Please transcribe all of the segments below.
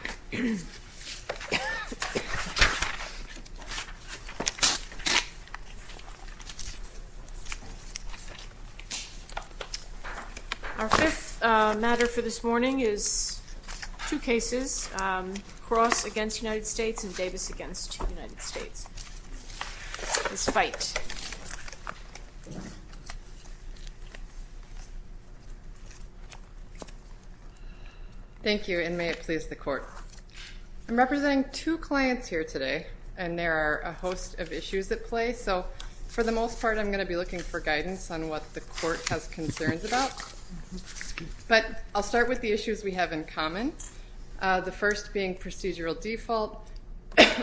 Our fifth matter for this morning is two cases, Cross v. United States and Davis v. United States, this fight. Thank you and may it please the court. I'm representing two clients here today and there are a host of issues at play, so for the most part I'm going to be looking for guidance on what the court has concerns about. But I'll start with the issues we have in common, the first being procedural default,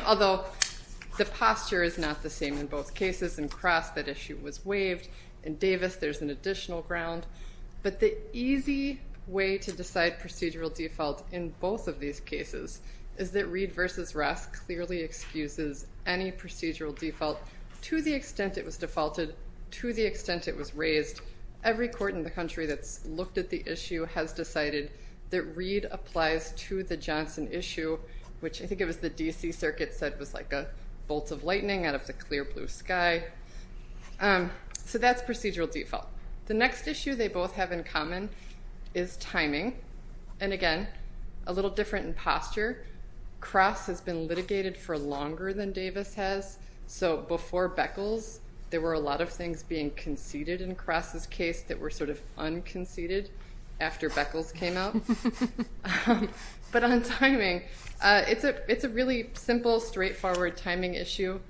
although the posture is not the same in both cases, in Cross that issue was waived, in Davis there's an additional ground. But the easy way to decide procedural default in both of these cases is that Reed v. Ross clearly excuses any procedural default to the extent it was defaulted, to the extent it was raised. Every court in the country that's looked at the issue has decided that Reed applies to the Johnson issue, which I think it was the D.C. Circuit said was like a bolt of lightning out of the clear blue sky. So that's procedural default. The next issue they both have in common is timing, and again, a little different in posture. Cross has been litigated for longer than Davis has, so before Beckles there were a lot of things being conceded in Cross' case that were sort of unconceded after Beckles came out. But on timing, it's a really simple, straightforward timing statute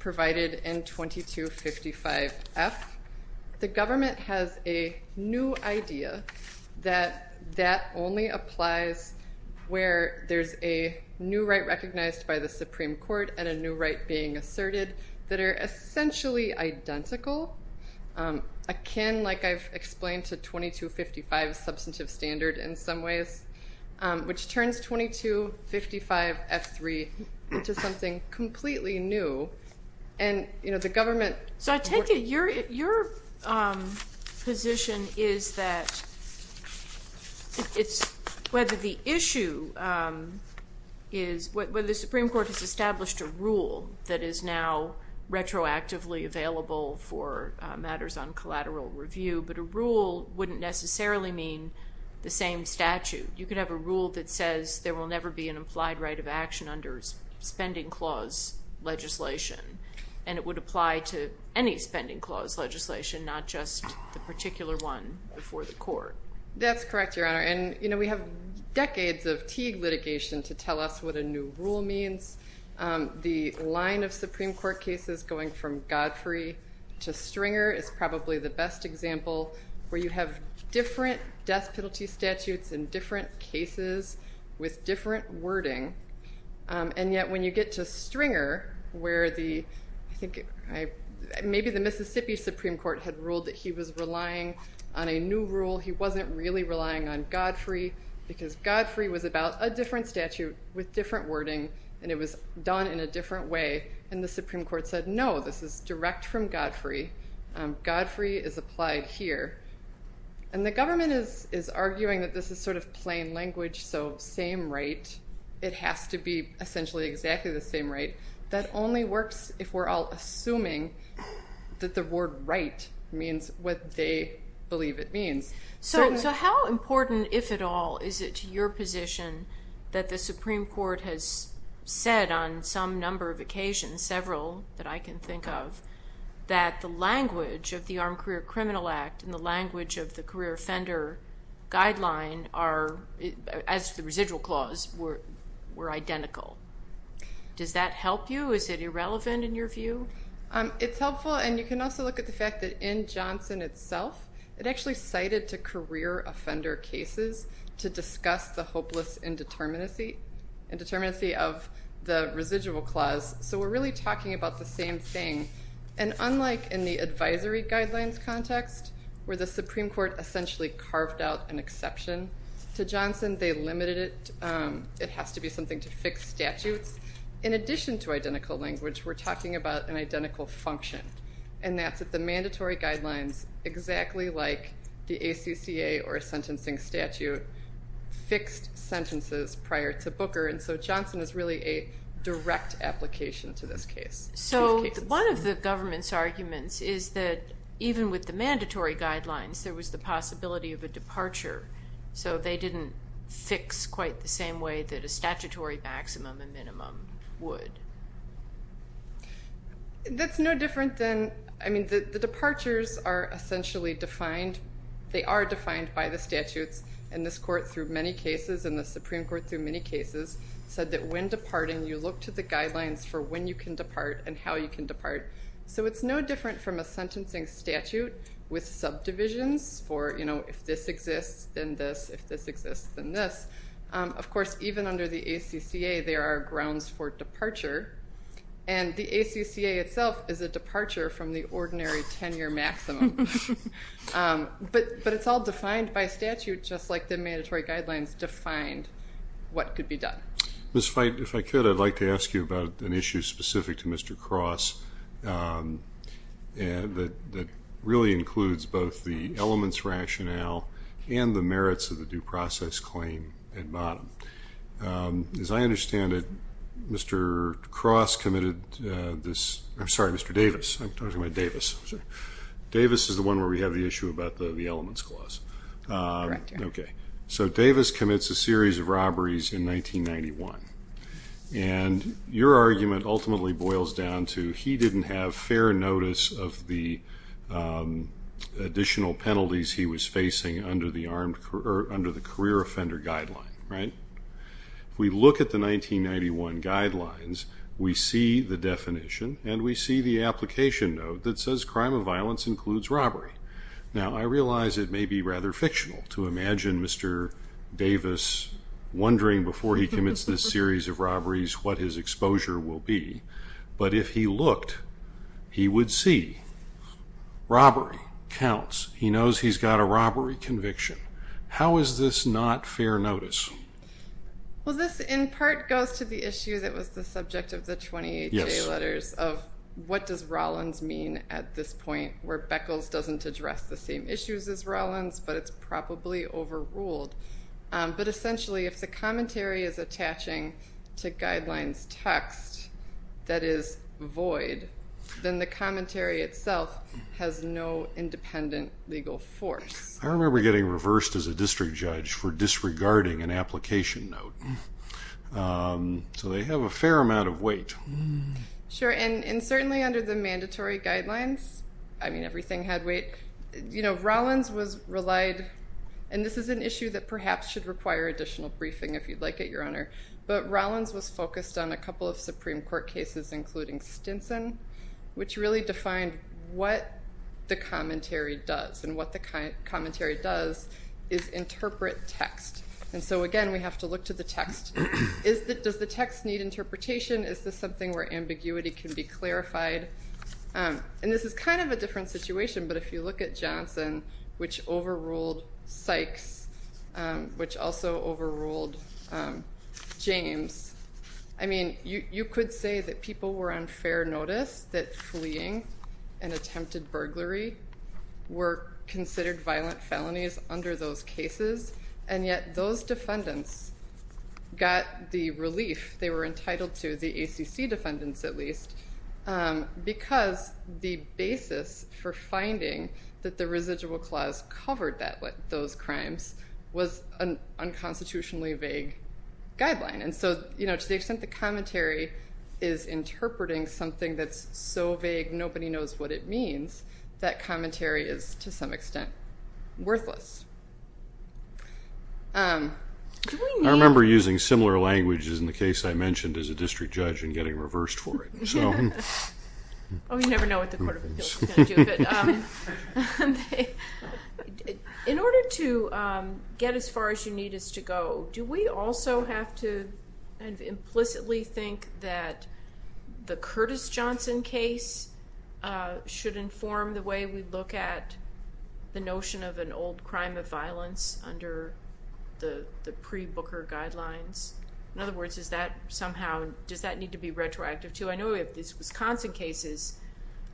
provided in 2255F. The government has a new idea that that only applies where there's a new right recognized by the Supreme Court and a new right being asserted that are essentially identical. Akin, like I've explained, to 2255 substantive standard in some ways, which turns 2255F3 into something completely new. So I take it your position is that whether the Supreme Court has established a rule that is now retroactively available for matters on collateral review, but a rule wouldn't necessarily mean the same statute. You could have a rule that says there will never be an implied right of action under spending clause legislation, and it would apply to any spending clause legislation, not just the particular one before the court. That's correct, Your Honor, and we have decades of Teague litigation to tell us what a new rule means. The line of Supreme Court cases going from Godfrey to Stringer is probably the best example where you have different death penalty statutes in different cases with different wording. And yet when you get to Stringer, where maybe the Mississippi Supreme Court had ruled that he was relying on a new rule, he wasn't really relying on Godfrey, because Godfrey was about a different statute with different wording, and it was done in a different way, and the Supreme Court said no, this is direct from Godfrey. Godfrey is applied here, and the government is arguing that this is sort of plain language, so same right, it has to be essentially exactly the same right. That only works if we're all assuming that the word right means what they believe it means. So how important, if at all, is it to your position that the Supreme Court has said on some number of occasions, several that I can think of, that the language of the Armed Career Criminal Act and the language of the Career Offender Guideline, as the residual clause, were identical? Does that help you? Is it irrelevant in your view? It's helpful, and you can also look at the fact that in Johnson itself, it actually cited to career offender cases to discuss the hopeless indeterminacy of the residual clause, so we're really talking about the same thing. And unlike in the advisory guidelines context, where the Supreme Court essentially carved out an exception to Johnson, they limited it. It has to be something to fix statutes. In addition to identical language, we're talking about an identical function, and that's that the mandatory guidelines, exactly like the ACCA or sentencing statute, fixed sentences prior to Booker, and so Johnson is really a direct application to this case. So one of the government's arguments is that even with the mandatory guidelines, there was the possibility of a departure, so they didn't fix quite the same way that a statutory maximum and minimum would. That's no different than, I mean, the departures are essentially defined, they are defined by the statutes, and this court through many cases, and the Supreme Court through many cases, said that when departing, you look to the guidelines for when you can depart and how you can depart. So it's no different from a sentencing statute with subdivisions for, you know, if this exists, then this, if this exists, then this. Of course, even under the ACCA, there are grounds for departure, and the ACCA itself is a departure from the ordinary 10-year maximum. But it's all defined by statute, just like the mandatory guidelines defined what could be done. Ms. Feit, if I could, I'd like to ask you about an issue specific to Mr. Cross that really includes both the elements rationale and the merits of the due process claim at bottom. As I understand it, Mr. Cross committed this, I'm sorry, Mr. Davis, I'm talking about Davis. Davis is the one where we have the issue about the elements clause. Okay. If we look at the 1991 guidelines, we see the definition, and we see the application note that says crime of violence includes robbery. Now, I realize it may be rather fictional to imagine Mr. Davis wondering before he commits this series of robberies what his exposure will be, but if he looked, he would see robbery counts. He knows he's got a robbery conviction. How is this not fair notice? Well, this in part goes to the issue that was the subject of the 28-day letters of what does Rollins mean at this point, where Beckles doesn't address the same issues as Rollins, but it's probably overruled. But essentially, if the commentary is attaching to guidelines text that is void, then the commentary itself has no independent legal force. I remember getting reversed as a district judge for disregarding an application note. So they have a fair amount of weight. Sure, and certainly under the mandatory guidelines, I mean, everything had weight. Rollins was relied, and this is an issue that perhaps should require additional briefing if you'd like it, Your Honor, but Rollins was focused on a couple of Supreme Court cases, including Stinson, which really defined what the commentary does. And what the commentary does is interpret text. And so, again, we have to look to the text. Does the text need interpretation? Is this something where ambiguity can be clarified? And this is kind of a different situation, but if you look at Johnson, which overruled Sykes, which also overruled James, I mean, you could say that people were on fair notice that fleeing an attempted burglary were considered violent felonies under those cases. And yet those defendants got the relief they were entitled to, the ACC defendants at least, because the basis for finding that the residual clause covered those crimes was an unconstitutionally vague guideline. And so, you know, to the extent the commentary is interpreting something that's so vague nobody knows what it means, that commentary is, to some extent, worthless. Do we need... I remember using similar languages in the case I mentioned as a district judge and getting reversed for it. Oh, you never know what the Court of Appeals is going to do. In order to get as far as you need us to go, do we also have to implicitly think that the Curtis Johnson case should inform the way we look at the notion of an old crime of violence under the pre-Booker guidelines? In other words, does that need to be retroactive, too? I know we have these Wisconsin cases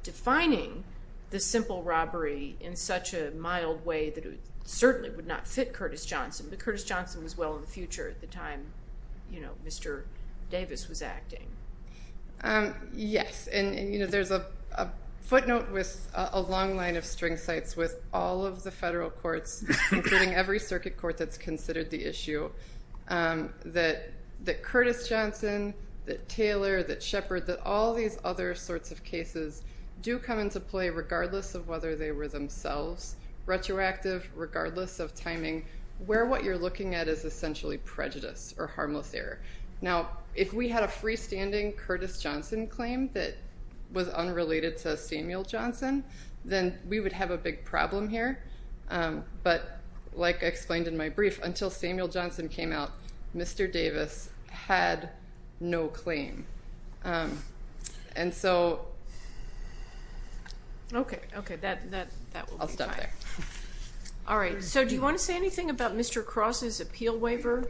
defining the simple robbery in such a mild way that it certainly would not fit Curtis Johnson, but Curtis Johnson was well in the future at the time Mr. Davis was acting. Yes, and there's a footnote with a long line of string sites with all of the federal courts, including every circuit court that's considered the issue, that Curtis Johnson, that Taylor, that Shepard, that all these other sorts of cases do come into play regardless of whether they were themselves. Retroactive, regardless of timing, where what you're looking at is essentially prejudice or harmless error. Now, if we had a freestanding Curtis Johnson claim that was unrelated to Samuel Johnson, then we would have a big problem here. But, like I explained in my brief, until Samuel Johnson came out, Mr. Davis had no claim. Okay, okay, that will be fine. I'll stop there. All right, so do you want to say anything about Mr. Cross's appeal waiver?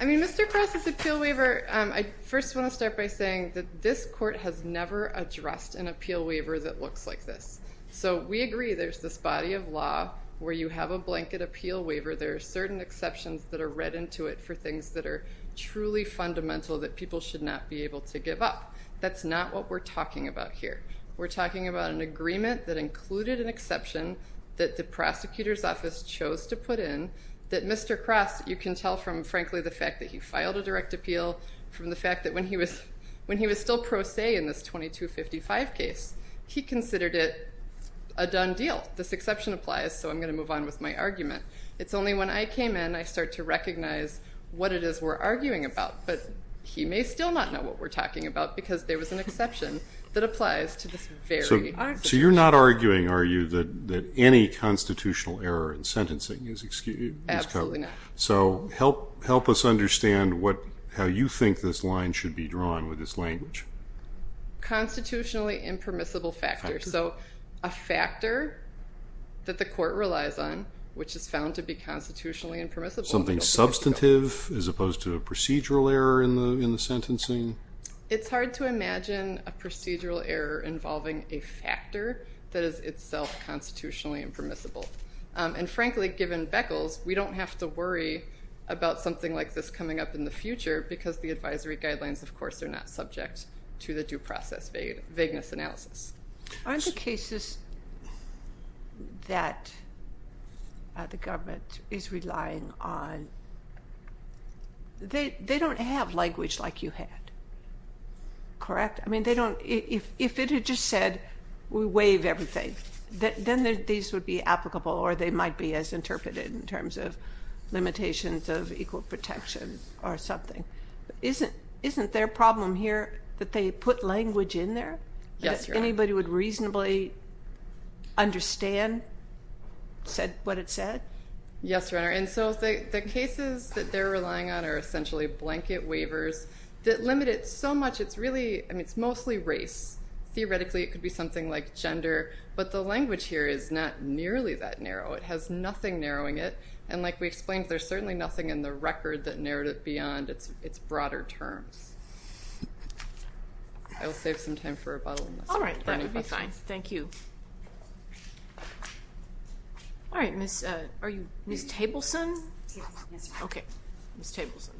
I mean, Mr. Cross's appeal waiver, I first want to start by saying that this court has never addressed an appeal waiver that looks like this. So we agree there's this body of law where you have a blanket appeal waiver. There are certain exceptions that are read into it for things that are truly fundamental that people should not be able to give up. That's not what we're talking about here. We're talking about an agreement that included an exception that the prosecutor's office chose to put in that Mr. Cross, you can tell from, frankly, the fact that he filed a direct appeal, from the fact that when he was still pro se in this 2255 case, he considered it a done deal. This exception applies, so I'm going to move on with my argument. It's only when I came in, I started to recognize what it is we're arguing about. But he may still not know what we're talking about because there was an exception that applies to this very situation. So you're not arguing, are you, that any constitutional error in sentencing is covered? Absolutely not. So help us understand how you think this line should be drawn with this language. Constitutionally impermissible factors. So a factor that the court relies on, which is found to be constitutionally impermissible. Something substantive as opposed to a procedural error in the sentencing? It's hard to imagine a procedural error involving a factor that is itself constitutionally impermissible. And, frankly, given Beckles, we don't have to worry about something like this coming up in the future because the advisory guidelines, of course, are not subject to the due process vagueness analysis. Aren't the cases that the government is relying on, they don't have language like you had, correct? I mean, if it had just said we waive everything, then these would be applicable or they might be as interpreted in terms of limitations of equal protection or something. Isn't their problem here that they put language in there? Yes, Your Honor. That anybody would reasonably understand what it said? Yes, Your Honor. And so the cases that they're relying on are essentially blanket waivers that limit it so much, it's really, I mean, it's mostly race. Theoretically, it could be something like gender, but the language here is not nearly that narrow. It has nothing narrowing it. And like we explained, there's certainly nothing in the record that narrowed it beyond its broader terms. I will save some time for a bottle. All right. That would be fine. Thank you. All right. Ms. Tableson? Yes. Okay. Ms. Tableson.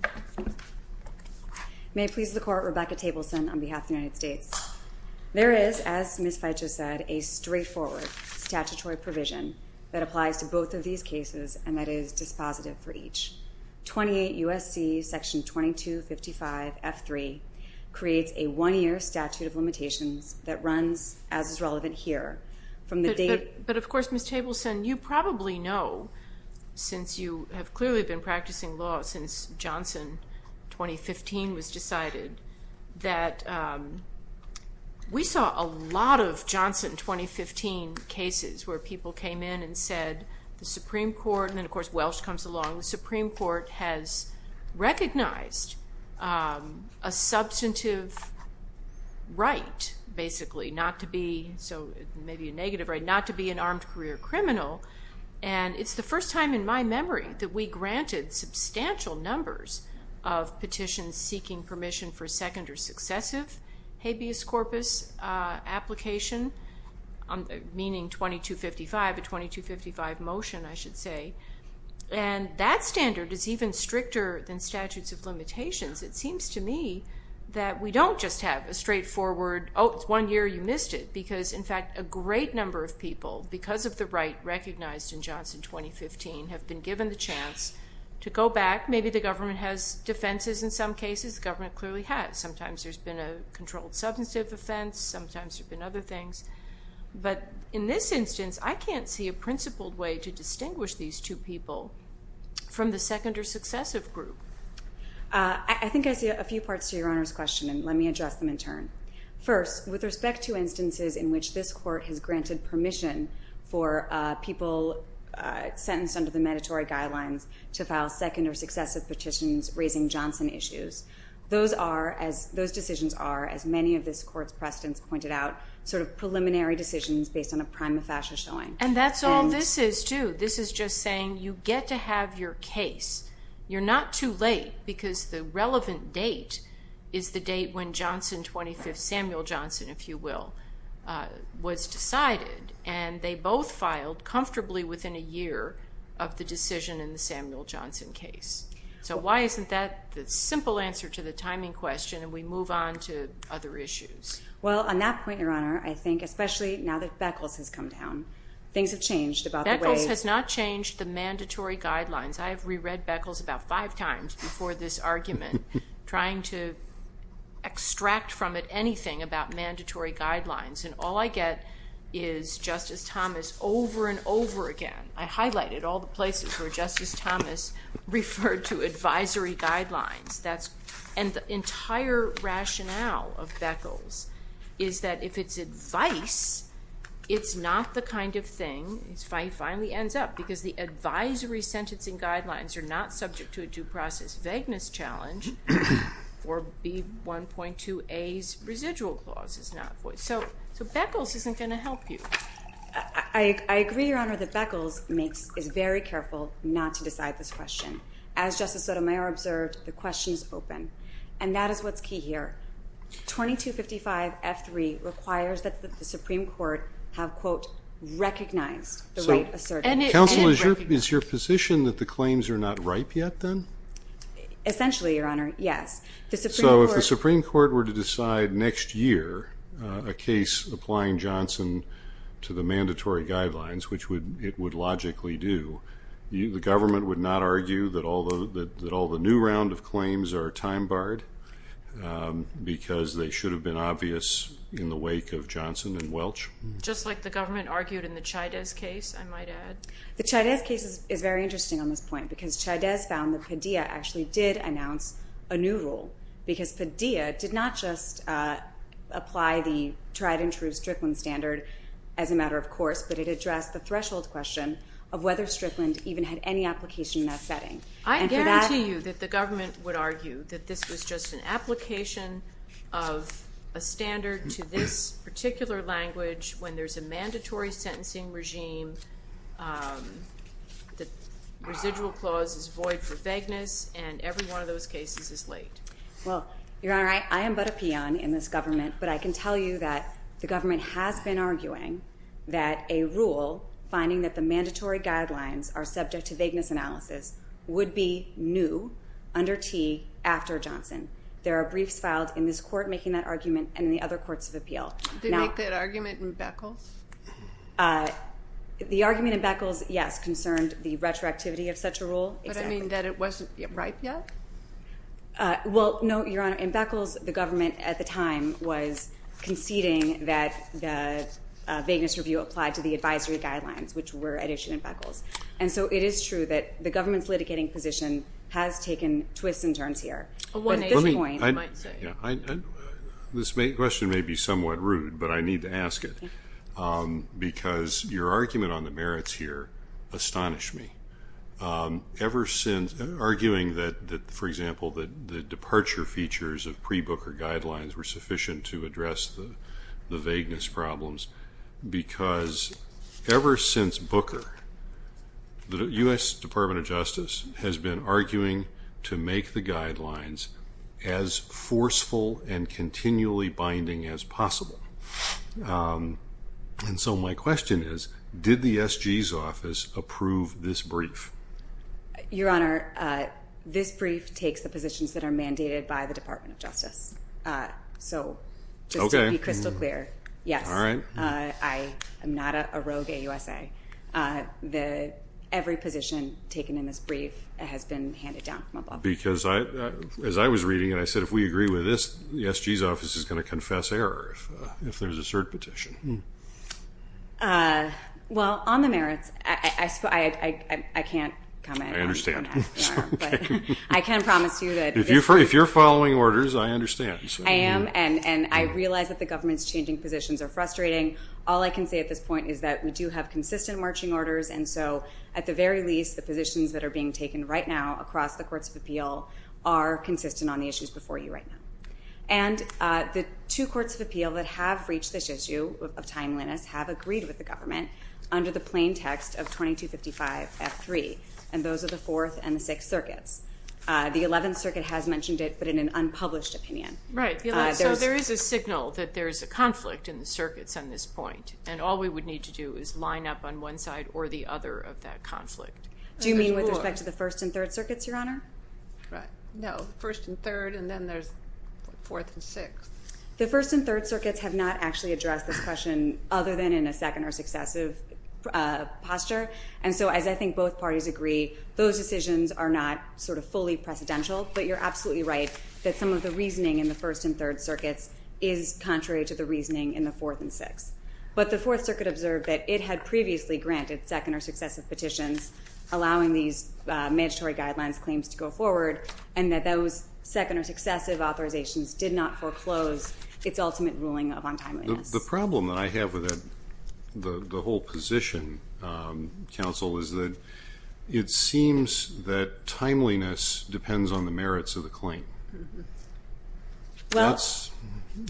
May it please the Court, Rebecca Tableson on behalf of the United States. There is, as Ms. Feitjo said, a straightforward statutory provision that applies to both of these cases and that is dispositive for each. 28 U.S.C. Section 2255F3 creates a one-year statute of limitations that runs as is relevant here. But, of course, Ms. Tableson, you probably know since you have clearly been practicing law since Johnson 2015 was decided, that we saw a lot of Johnson 2015 cases where people came in and said the Supreme Court, and then, of course, Welsh comes along, the Supreme Court has recognized a substantive right basically not to be, so maybe a negative right, not to be an armed career criminal. And it's the first time in my memory that we granted substantial numbers of petitions seeking permission for second or successive habeas corpus application, meaning 2255, a 2255 motion, I should say. And that standard is even stricter than statutes of limitations. It seems to me that we don't just have a straightforward, oh, it's one year, you missed it, because, in fact, a great number of people, because of the right recognized in Johnson 2015, have been given the chance to go back. In fact, maybe the government has defenses in some cases. The government clearly has. Sometimes there's been a controlled substantive offense. Sometimes there have been other things. But in this instance, I can't see a principled way to distinguish these two people from the second or successive group. I think I see a few parts to Your Honor's question, and let me address them in turn. First, with respect to instances in which this court has granted permission for people sentenced under the mandatory guidelines to file second or successive petitions raising Johnson issues, those decisions are, as many of this court's precedents pointed out, sort of preliminary decisions based on a prima facie showing. And that's all this is, too. This is just saying you get to have your case. You're not too late because the relevant date is the date when Johnson 25th, Samuel Johnson, if you will, was decided. And they both filed comfortably within a year of the decision in the Samuel Johnson case. So why isn't that the simple answer to the timing question, and we move on to other issues? Well, on that point, Your Honor, I think especially now that Beckles has come down, things have changed about the way... Beckles has not changed the mandatory guidelines. I have reread Beckles about five times before this argument trying to extract from it anything about mandatory guidelines. And all I get is Justice Thomas over and over again. I highlighted all the places where Justice Thomas referred to advisory guidelines. And the entire rationale of Beckles is that if it's advice, it's not the kind of thing... It finally ends up because the advisory sentencing guidelines are not subject to a due process vagueness challenge or B1.2A's residual clause is not... So Beckles isn't going to help you. I agree, Your Honor, that Beckles is very careful not to decide this question. As Justice Sotomayor observed, the question is open. And that is what's key here. 2255F3 requires that the Supreme Court have, quote, recognized the right assertion. Counsel, is your position that the claims are not ripe yet then? Essentially, Your Honor, yes. So if the Supreme Court were to decide next year a case applying Johnson to the mandatory guidelines, which it would logically do, the government would not argue that all the new round of claims are time-barred because they should have been obvious in the wake of Johnson and Welch? Just like the government argued in the Chaidez case, I might add. The Chaidez case is very interesting on this point because Chaidez found that Padilla actually did announce a new rule because Padilla did not just apply the tried-and-true Strickland standard as a matter of course, but it addressed the threshold question of whether Strickland even had any application in that setting. I guarantee you that the government would argue that this was just an application of a standard to this particular language when there's a mandatory sentencing regime, the residual clause is void for vagueness, and every one of those cases is late. Well, Your Honor, I am but a peon in this government, but I can tell you that the government has been arguing that a rule finding that the mandatory guidelines are subject to vagueness analysis would be new under T after Johnson. There are briefs filed in this court making that argument and in the other courts of appeal. Did they make that argument in Beckles? The argument in Beckles, yes, concerned the retroactivity of such a rule. But I mean that it wasn't right yet? Well, no, Your Honor. In Beckles, the government at the time was conceding that the vagueness review applied to the advisory guidelines, which were at issue in Beckles. And so it is true that the government's litigating position has taken twists and turns here. This question may be somewhat rude, but I need to ask it, because your argument on the merits here astonished me, arguing that, for example, the departure features of pre-Booker guidelines were sufficient to address the vagueness problems. Because ever since Booker, the U.S. Department of Justice has been arguing to make the guidelines as forceful and continually binding as possible. And so my question is, did the S.G.'s office approve this brief? Your Honor, this brief takes the positions that are mandated by the Department of Justice. So just to be crystal clear, yes, I am not a rogue AUSA. Every position taken in this brief has been handed down from above. Because as I was reading it, I said if we agree with this, the S.G.'s office is going to confess error if there's a cert petition. Well, on the merits, I can't comment on that. I understand. But I can promise you that this is true. If you're following orders, I understand. I am, and I realize that the government's changing positions are frustrating. All I can say at this point is that we do have consistent marching orders, and so at the very least, the positions that are being taken right now across the Courts of Appeal are consistent on the issues before you right now. And the two Courts of Appeal that have reached this issue of timeliness have agreed with the government under the plain text of 2255F3, and those are the Fourth and the Sixth Circuits. The Eleventh Circuit has mentioned it, but in an unpublished opinion. Right. So there is a signal that there is a conflict in the circuits on this point, and all we would need to do is line up on one side or the other of that conflict. Do you mean with respect to the First and Third Circuits, Your Honor? No, First and Third, and then there's Fourth and Sixth. The First and Third Circuits have not actually addressed this question other than in a second or successive posture, and so as I think both parties agree, those decisions are not sort of fully precedential, but you're absolutely right that some of the reasoning in the First and Third Circuits is contrary to the reasoning in the Fourth and Sixth. But the Fourth Circuit observed that it had previously granted second or successive petitions allowing these mandatory guidelines claims to go forward and that those second or successive authorizations did not foreclose its ultimate ruling of untimeliness. The problem that I have with the whole position, Counsel, is that it seems that timeliness depends on the merits of the claim. That's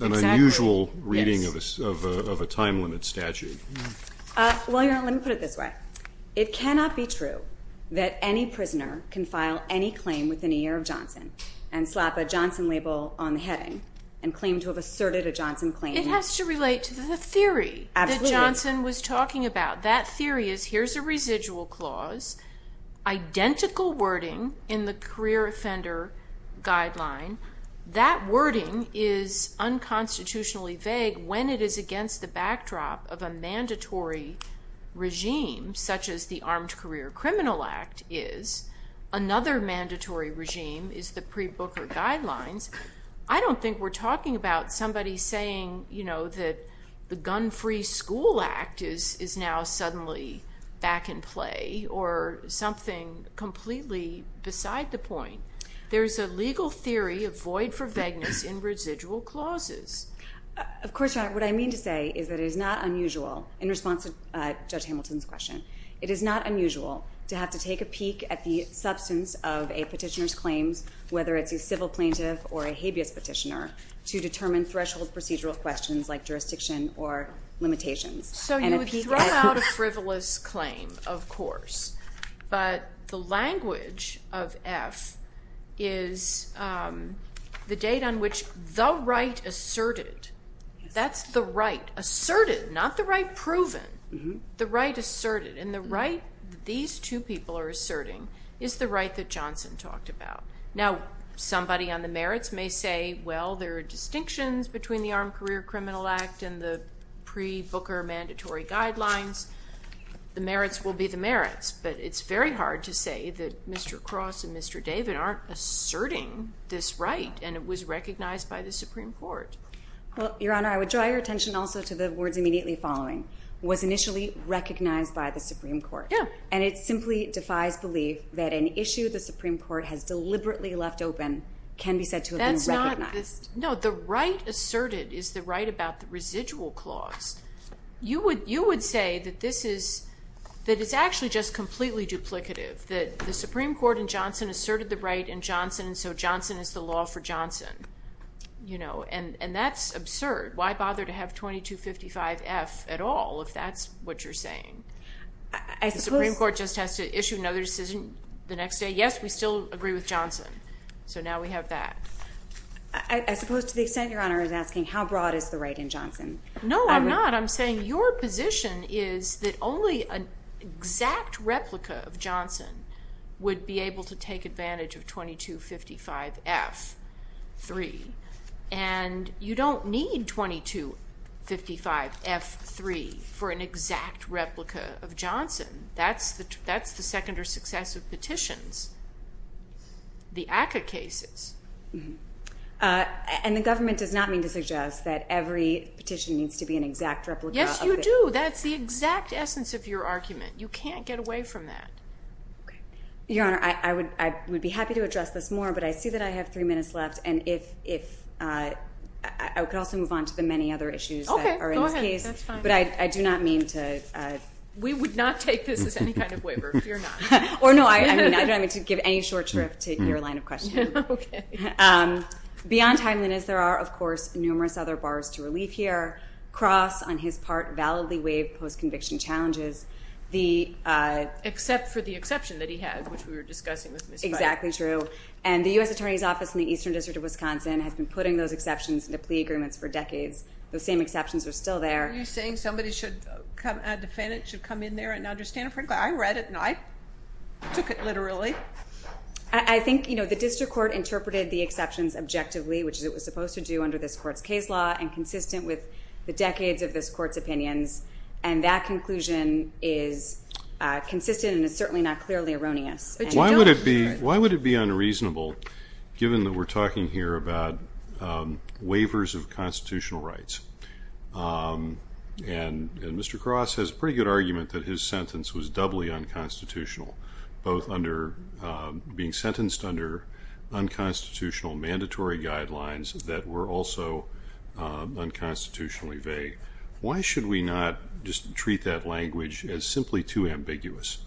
an unusual reading of a time-limited statute. Well, Your Honor, let me put it this way. It cannot be true that any prisoner can file any claim within a year of Johnson and slap a Johnson label on the heading and claim to have asserted a Johnson claim. It has to relate to the theory that Johnson was talking about. That theory is here's a residual clause, identical wording in the career offender guideline. That wording is unconstitutionally vague when it is against the backdrop of a mandatory regime such as the Armed Career Criminal Act is. Another mandatory regime is the pre-Booker guidelines. I don't think we're talking about somebody saying, you know, that the Gun-Free School Act is now suddenly back in play or something completely beside the point. There is a legal theory of void for vagueness in residual clauses. Of course, Your Honor. What I mean to say is that it is not unusual, in response to Judge Hamilton's question, it is not unusual to have to take a peek at the substance of a petitioner's claims, whether it's a civil plaintiff or a habeas petitioner, to determine threshold procedural questions like jurisdiction or limitations. So you would throw out a frivolous claim, of course. But the language of F is the date on which the right asserted. That's the right asserted, not the right proven. The right asserted. And the right these two people are asserting is the right that Johnson talked about. Now, somebody on the merits may say, well, there are distinctions between the Armed Career Criminal Act and the pre-Booker mandatory guidelines. The merits will be the merits. But it's very hard to say that Mr. Cross and Mr. David aren't asserting this right, and it was recognized by the Supreme Court. Well, Your Honor, I would draw your attention also to the words immediately following. It was initially recognized by the Supreme Court. And it simply defies belief that an issue the Supreme Court has deliberately left open can be said to have been recognized. No, the right asserted is the right about the residual clause. You would say that it's actually just completely duplicative, that the Supreme Court in Johnson asserted the right in Johnson, and so Johnson is the law for Johnson. And that's absurd. The Supreme Court just has to issue another decision the next day. Yes, we still agree with Johnson. So now we have that. I suppose to the extent Your Honor is asking how broad is the right in Johnson. No, I'm not. I'm saying your position is that only an exact replica of Johnson would be able to take advantage of 2255F3. And you don't need 2255F3 for an exact replica of Johnson. That's the second or successive petitions, the ACCA cases. And the government does not mean to suggest that every petition needs to be an exact replica. Yes, you do. That's the exact essence of your argument. You can't get away from that. Your Honor, I would be happy to address this more, but I see that I have three minutes left. And if I could also move on to the many other issues that are in this case. Okay, go ahead. That's fine. But I do not mean to. We would not take this as any kind of waiver, fear not. Or, no, I don't mean to give any short shrift to your line of questioning. Okay. Beyond timeliness, there are, of course, numerous other bars to relief here. Cross, on his part, validly waived post-conviction challenges. Except for the exception that he had, which we were discussing with Ms. White. Exactly true. And the U.S. Attorney's Office in the Eastern District of Wisconsin has been putting those exceptions into plea agreements for decades. Those same exceptions are still there. Are you saying a defendant should come in there and understand it? Frankly, I read it, and I took it literally. I think the district court interpreted the exceptions objectively, which it was supposed to do under this court's case law, and consistent with the decades of this court's opinions. And that conclusion is consistent and is certainly not clearly erroneous. Why would it be unreasonable, given that we're talking here about waivers of constitutional rights? And Mr. Cross has a pretty good argument that his sentence was doubly unconstitutional, both being sentenced under unconstitutional mandatory guidelines that were also unconstitutionally vague. Why should we not just treat that language as simply too ambiguous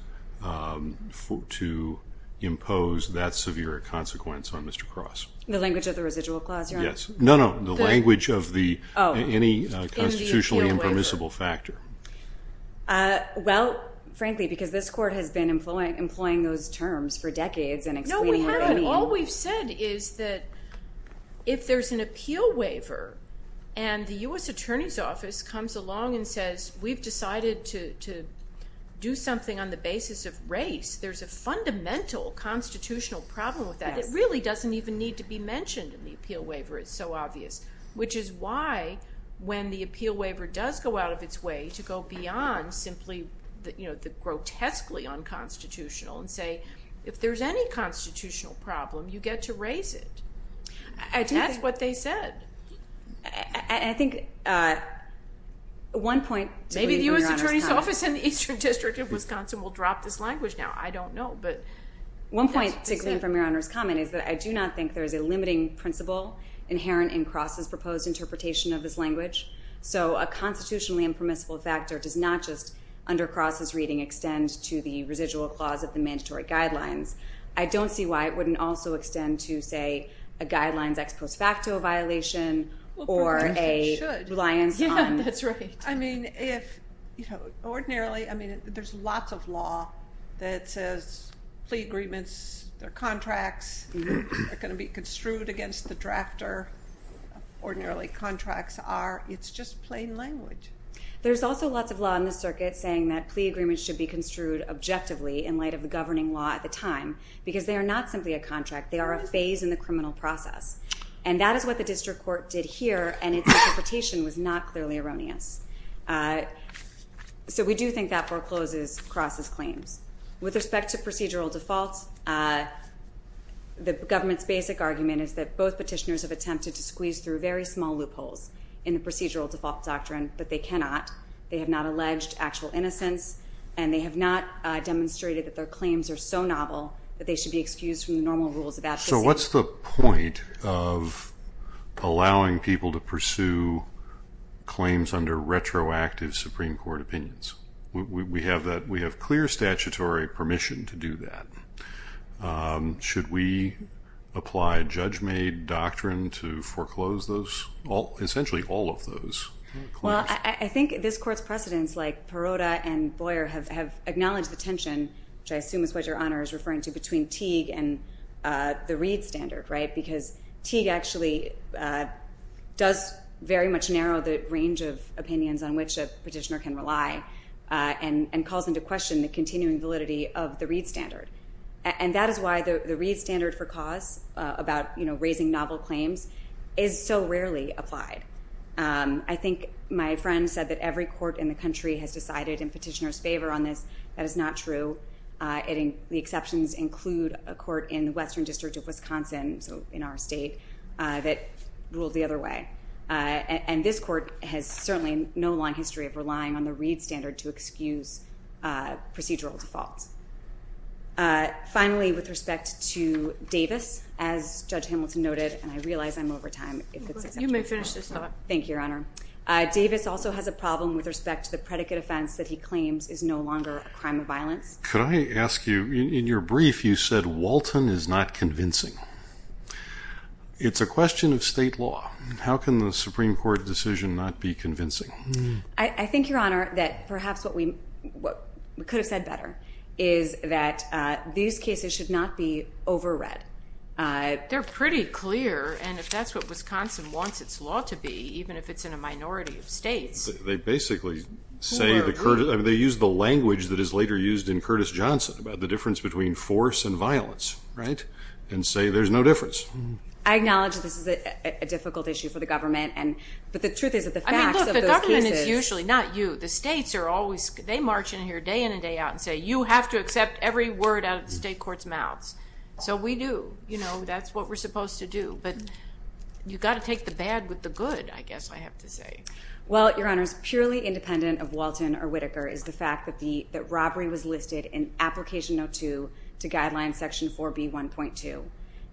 to impose that severe consequence on Mr. Cross? The language of the residual clause, Your Honor? No, no, the language of any constitutionally impermissible factor. Well, frankly, because this court has been employing those terms for decades. No, we haven't. All we've said is that if there's an appeal waiver and the U.S. Attorney's Office comes along and says, we've decided to do something on the basis of race, there's a fundamental constitutional problem with that that really doesn't even need to be mentioned in the appeal waiver, it's so obvious, which is why when the appeal waiver does go out of its way to go beyond simply the grotesquely unconstitutional and say, if there's any constitutional problem, you get to raise it. That's what they said. I think one point to clean from Your Honor's comment. Maybe the U.S. Attorney's Office in the Eastern District of Wisconsin will drop this language now. I don't know. One point to clean from Your Honor's comment is that I do not think there is a limiting principle inherent in Cross's proposed interpretation of this language, so a constitutionally impermissible factor does not just, under Cross's reading, extend to the residual clause of the mandatory guidelines. I don't see why it wouldn't also extend to, say, a guidelines ex post facto violation or a reliance on... Well, perhaps it should. Yeah, that's right. I mean, ordinarily, there's lots of law that says plea agreements, their contracts are going to be construed against the drafter. Ordinarily, contracts are. It's just plain language. There's also lots of law in the circuit saying that plea agreements should be construed objectively in light of the governing law at the time, because they are not simply a contract. They are a phase in the criminal process. And that is what the district court did here, and its interpretation was not clearly erroneous. So we do think that forecloses Cross's claims. With respect to procedural default, the government's basic argument is that both petitioners have attempted to squeeze through very small loopholes in the procedural default doctrine, but they cannot. They have not alleged actual innocence, and they have not demonstrated that their claims are so novel that they should be excused from the normal rules of advocacy. So what's the point of allowing people to pursue claims under retroactive Supreme Court opinions? We have clear statutory permission to do that. Should we apply judge-made doctrine to foreclose those, essentially all of those claims? Well, I think this court's precedents, like Perota and Boyer, have acknowledged the tension, which I assume is what Your Honor is referring to, between Teague and the Reed standard, right? Because Teague actually does very much narrow the range of opinions on which a petitioner can rely and calls into question the continuing validity of the Reed standard. And that is why the Reed standard for cause about raising novel claims is so rarely applied. I think my friend said that every court in the country has decided in petitioner's favor on this. That is not true. The exceptions include a court in the Western District of Wisconsin, so in our state, that ruled the other way. And this court has certainly no long history of relying on the Reed standard to excuse procedural defaults. Finally, with respect to Davis, as Judge Hamilton noted, and I realize I'm over time. You may finish this up. Thank you, Your Honor. Davis also has a problem with respect to the predicate offense that he claims is no longer a crime of violence. Could I ask you, in your brief, you said Walton is not convincing. It's a question of state law. How can the Supreme Court decision not be convincing? I think, Your Honor, that perhaps what we could have said better is that these cases should not be overread. They're pretty clear. And if that's what Wisconsin wants its law to be, even if it's in a minority of states. They basically say they use the language that is later used in Curtis Johnson about the difference between force and violence, right, and say there's no difference. I acknowledge this is a difficult issue for the government, but the truth is that the facts of those cases. I mean, look, the government is usually not you. The states are always, they march in here day in and day out and say, you have to accept every word out of the state court's mouths. So we do. You know, that's what we're supposed to do. But you've got to take the bad with the good, I guess I have to say. Well, Your Honor, it's purely independent of Walton or Whitaker is the fact that robbery was listed in Application Note 2 to Guidelines Section 4B1.2.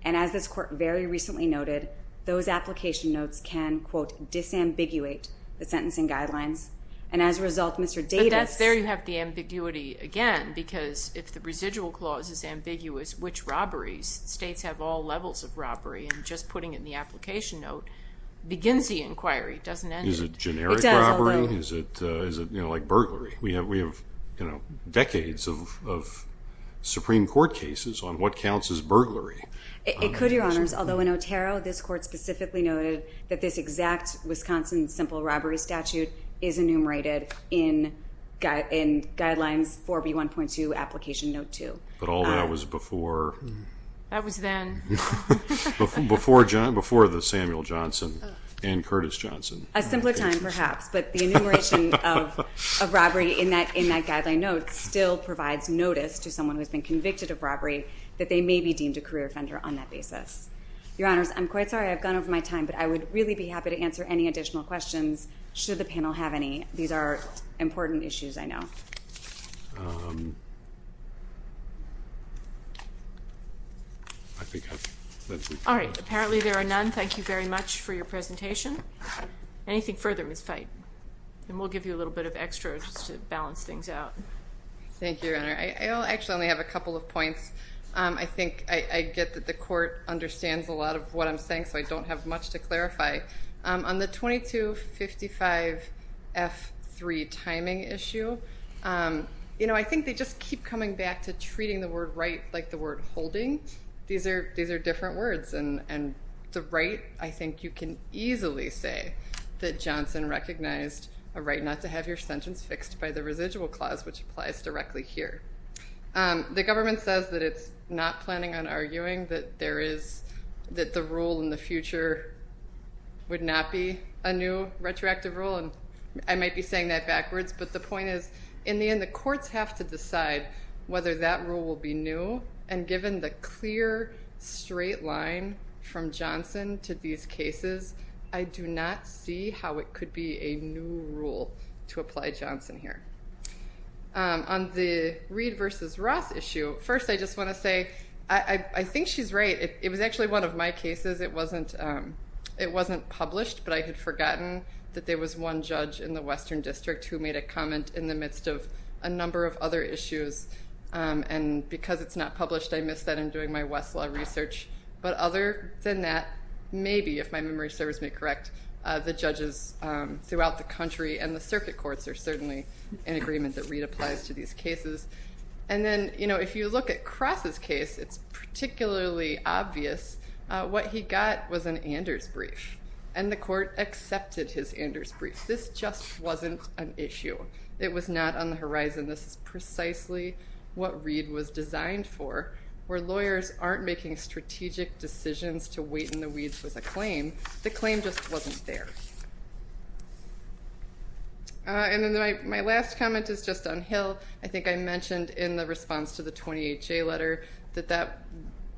And as this court very recently noted, those application notes can, quote, disambiguate the sentencing guidelines. And as a result, Mr. Davis. But that's there you have the ambiguity again because if the residual clause is ambiguous, which robberies, states have all levels of robbery, and just putting it in the application note begins the inquiry. It doesn't end it. Is it generic robbery? It does, although. Is it like burglary? We have decades of Supreme Court cases on what counts as burglary. It could, Your Honors, although in Otero, this court specifically noted that this exact Wisconsin simple robbery statute is enumerated in Guidelines 4B1.2 Application Note 2. But all that was before? That was then. Before the Samuel Johnson and Curtis Johnson. A simpler time, perhaps, but the enumeration of robbery in that guideline note still provides notice to someone who has been convicted of robbery that they may be deemed a career offender on that basis. Your Honors, I'm quite sorry I've gone over my time, but I would really be happy to answer any additional questions should the panel have any. These are important issues, I know. All right. Apparently there are none. Thank you very much for your presentation. Anything further, Ms. Feit? Then we'll give you a little bit of extra just to balance things out. Thank you, Your Honor. I actually only have a couple of points. I think I get that the court understands a lot of what I'm saying, so I don't have much to clarify. On the 2255F3 timing issue, I think they just keep coming back to treating the word right like the word holding. These are different words, and the right I think you can easily say that Johnson recognized a right not to have your sentence fixed by the residual clause, which applies directly here. The government says that it's not planning on arguing that there is that the rule in the future would not be a new retroactive rule, and I might be saying that backwards, but the point is in the end the courts have to decide whether that rule will be new, and given the clear straight line from Johnson to these cases, I do not see how it could be a new rule to apply Johnson here. On the Reed versus Ross issue, first I just want to say, I think she's right. It was actually one of my cases. It wasn't published, but I had forgotten that there was one judge in the Western District who made a comment in the midst of a number of other issues, and because it's not published, I missed that in doing my Westlaw research, but other than that maybe if my memory serves me correct, the judges throughout the country and the circuit courts are certainly in agreement that Reed applies to these cases, and then if you look at Cross's case, it's particularly obvious what he got was an Anders brief, and the court accepted his Anders brief. This just wasn't an issue. It was not on the horizon. This is precisely what Reed was designed for where lawyers aren't making strategic decisions to wait in the weeds with a claim. The claim just wasn't there. And then my last comment is just on Hill. I think I mentioned in the response to the 20HA letter that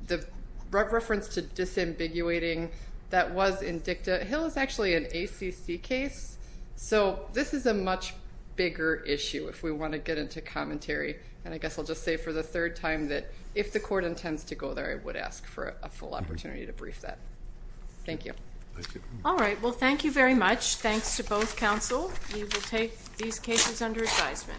the reference to disambiguating that was in dicta, Hill is actually an ACC case, so this is a much bigger issue if we want to get into commentary, and I guess I'll just say for the third time that if the court intends to go there, I would ask for a full opportunity to brief that. Thank you. All right. Well, thank you very much. Thanks to both counsel. You will take these cases under advisement.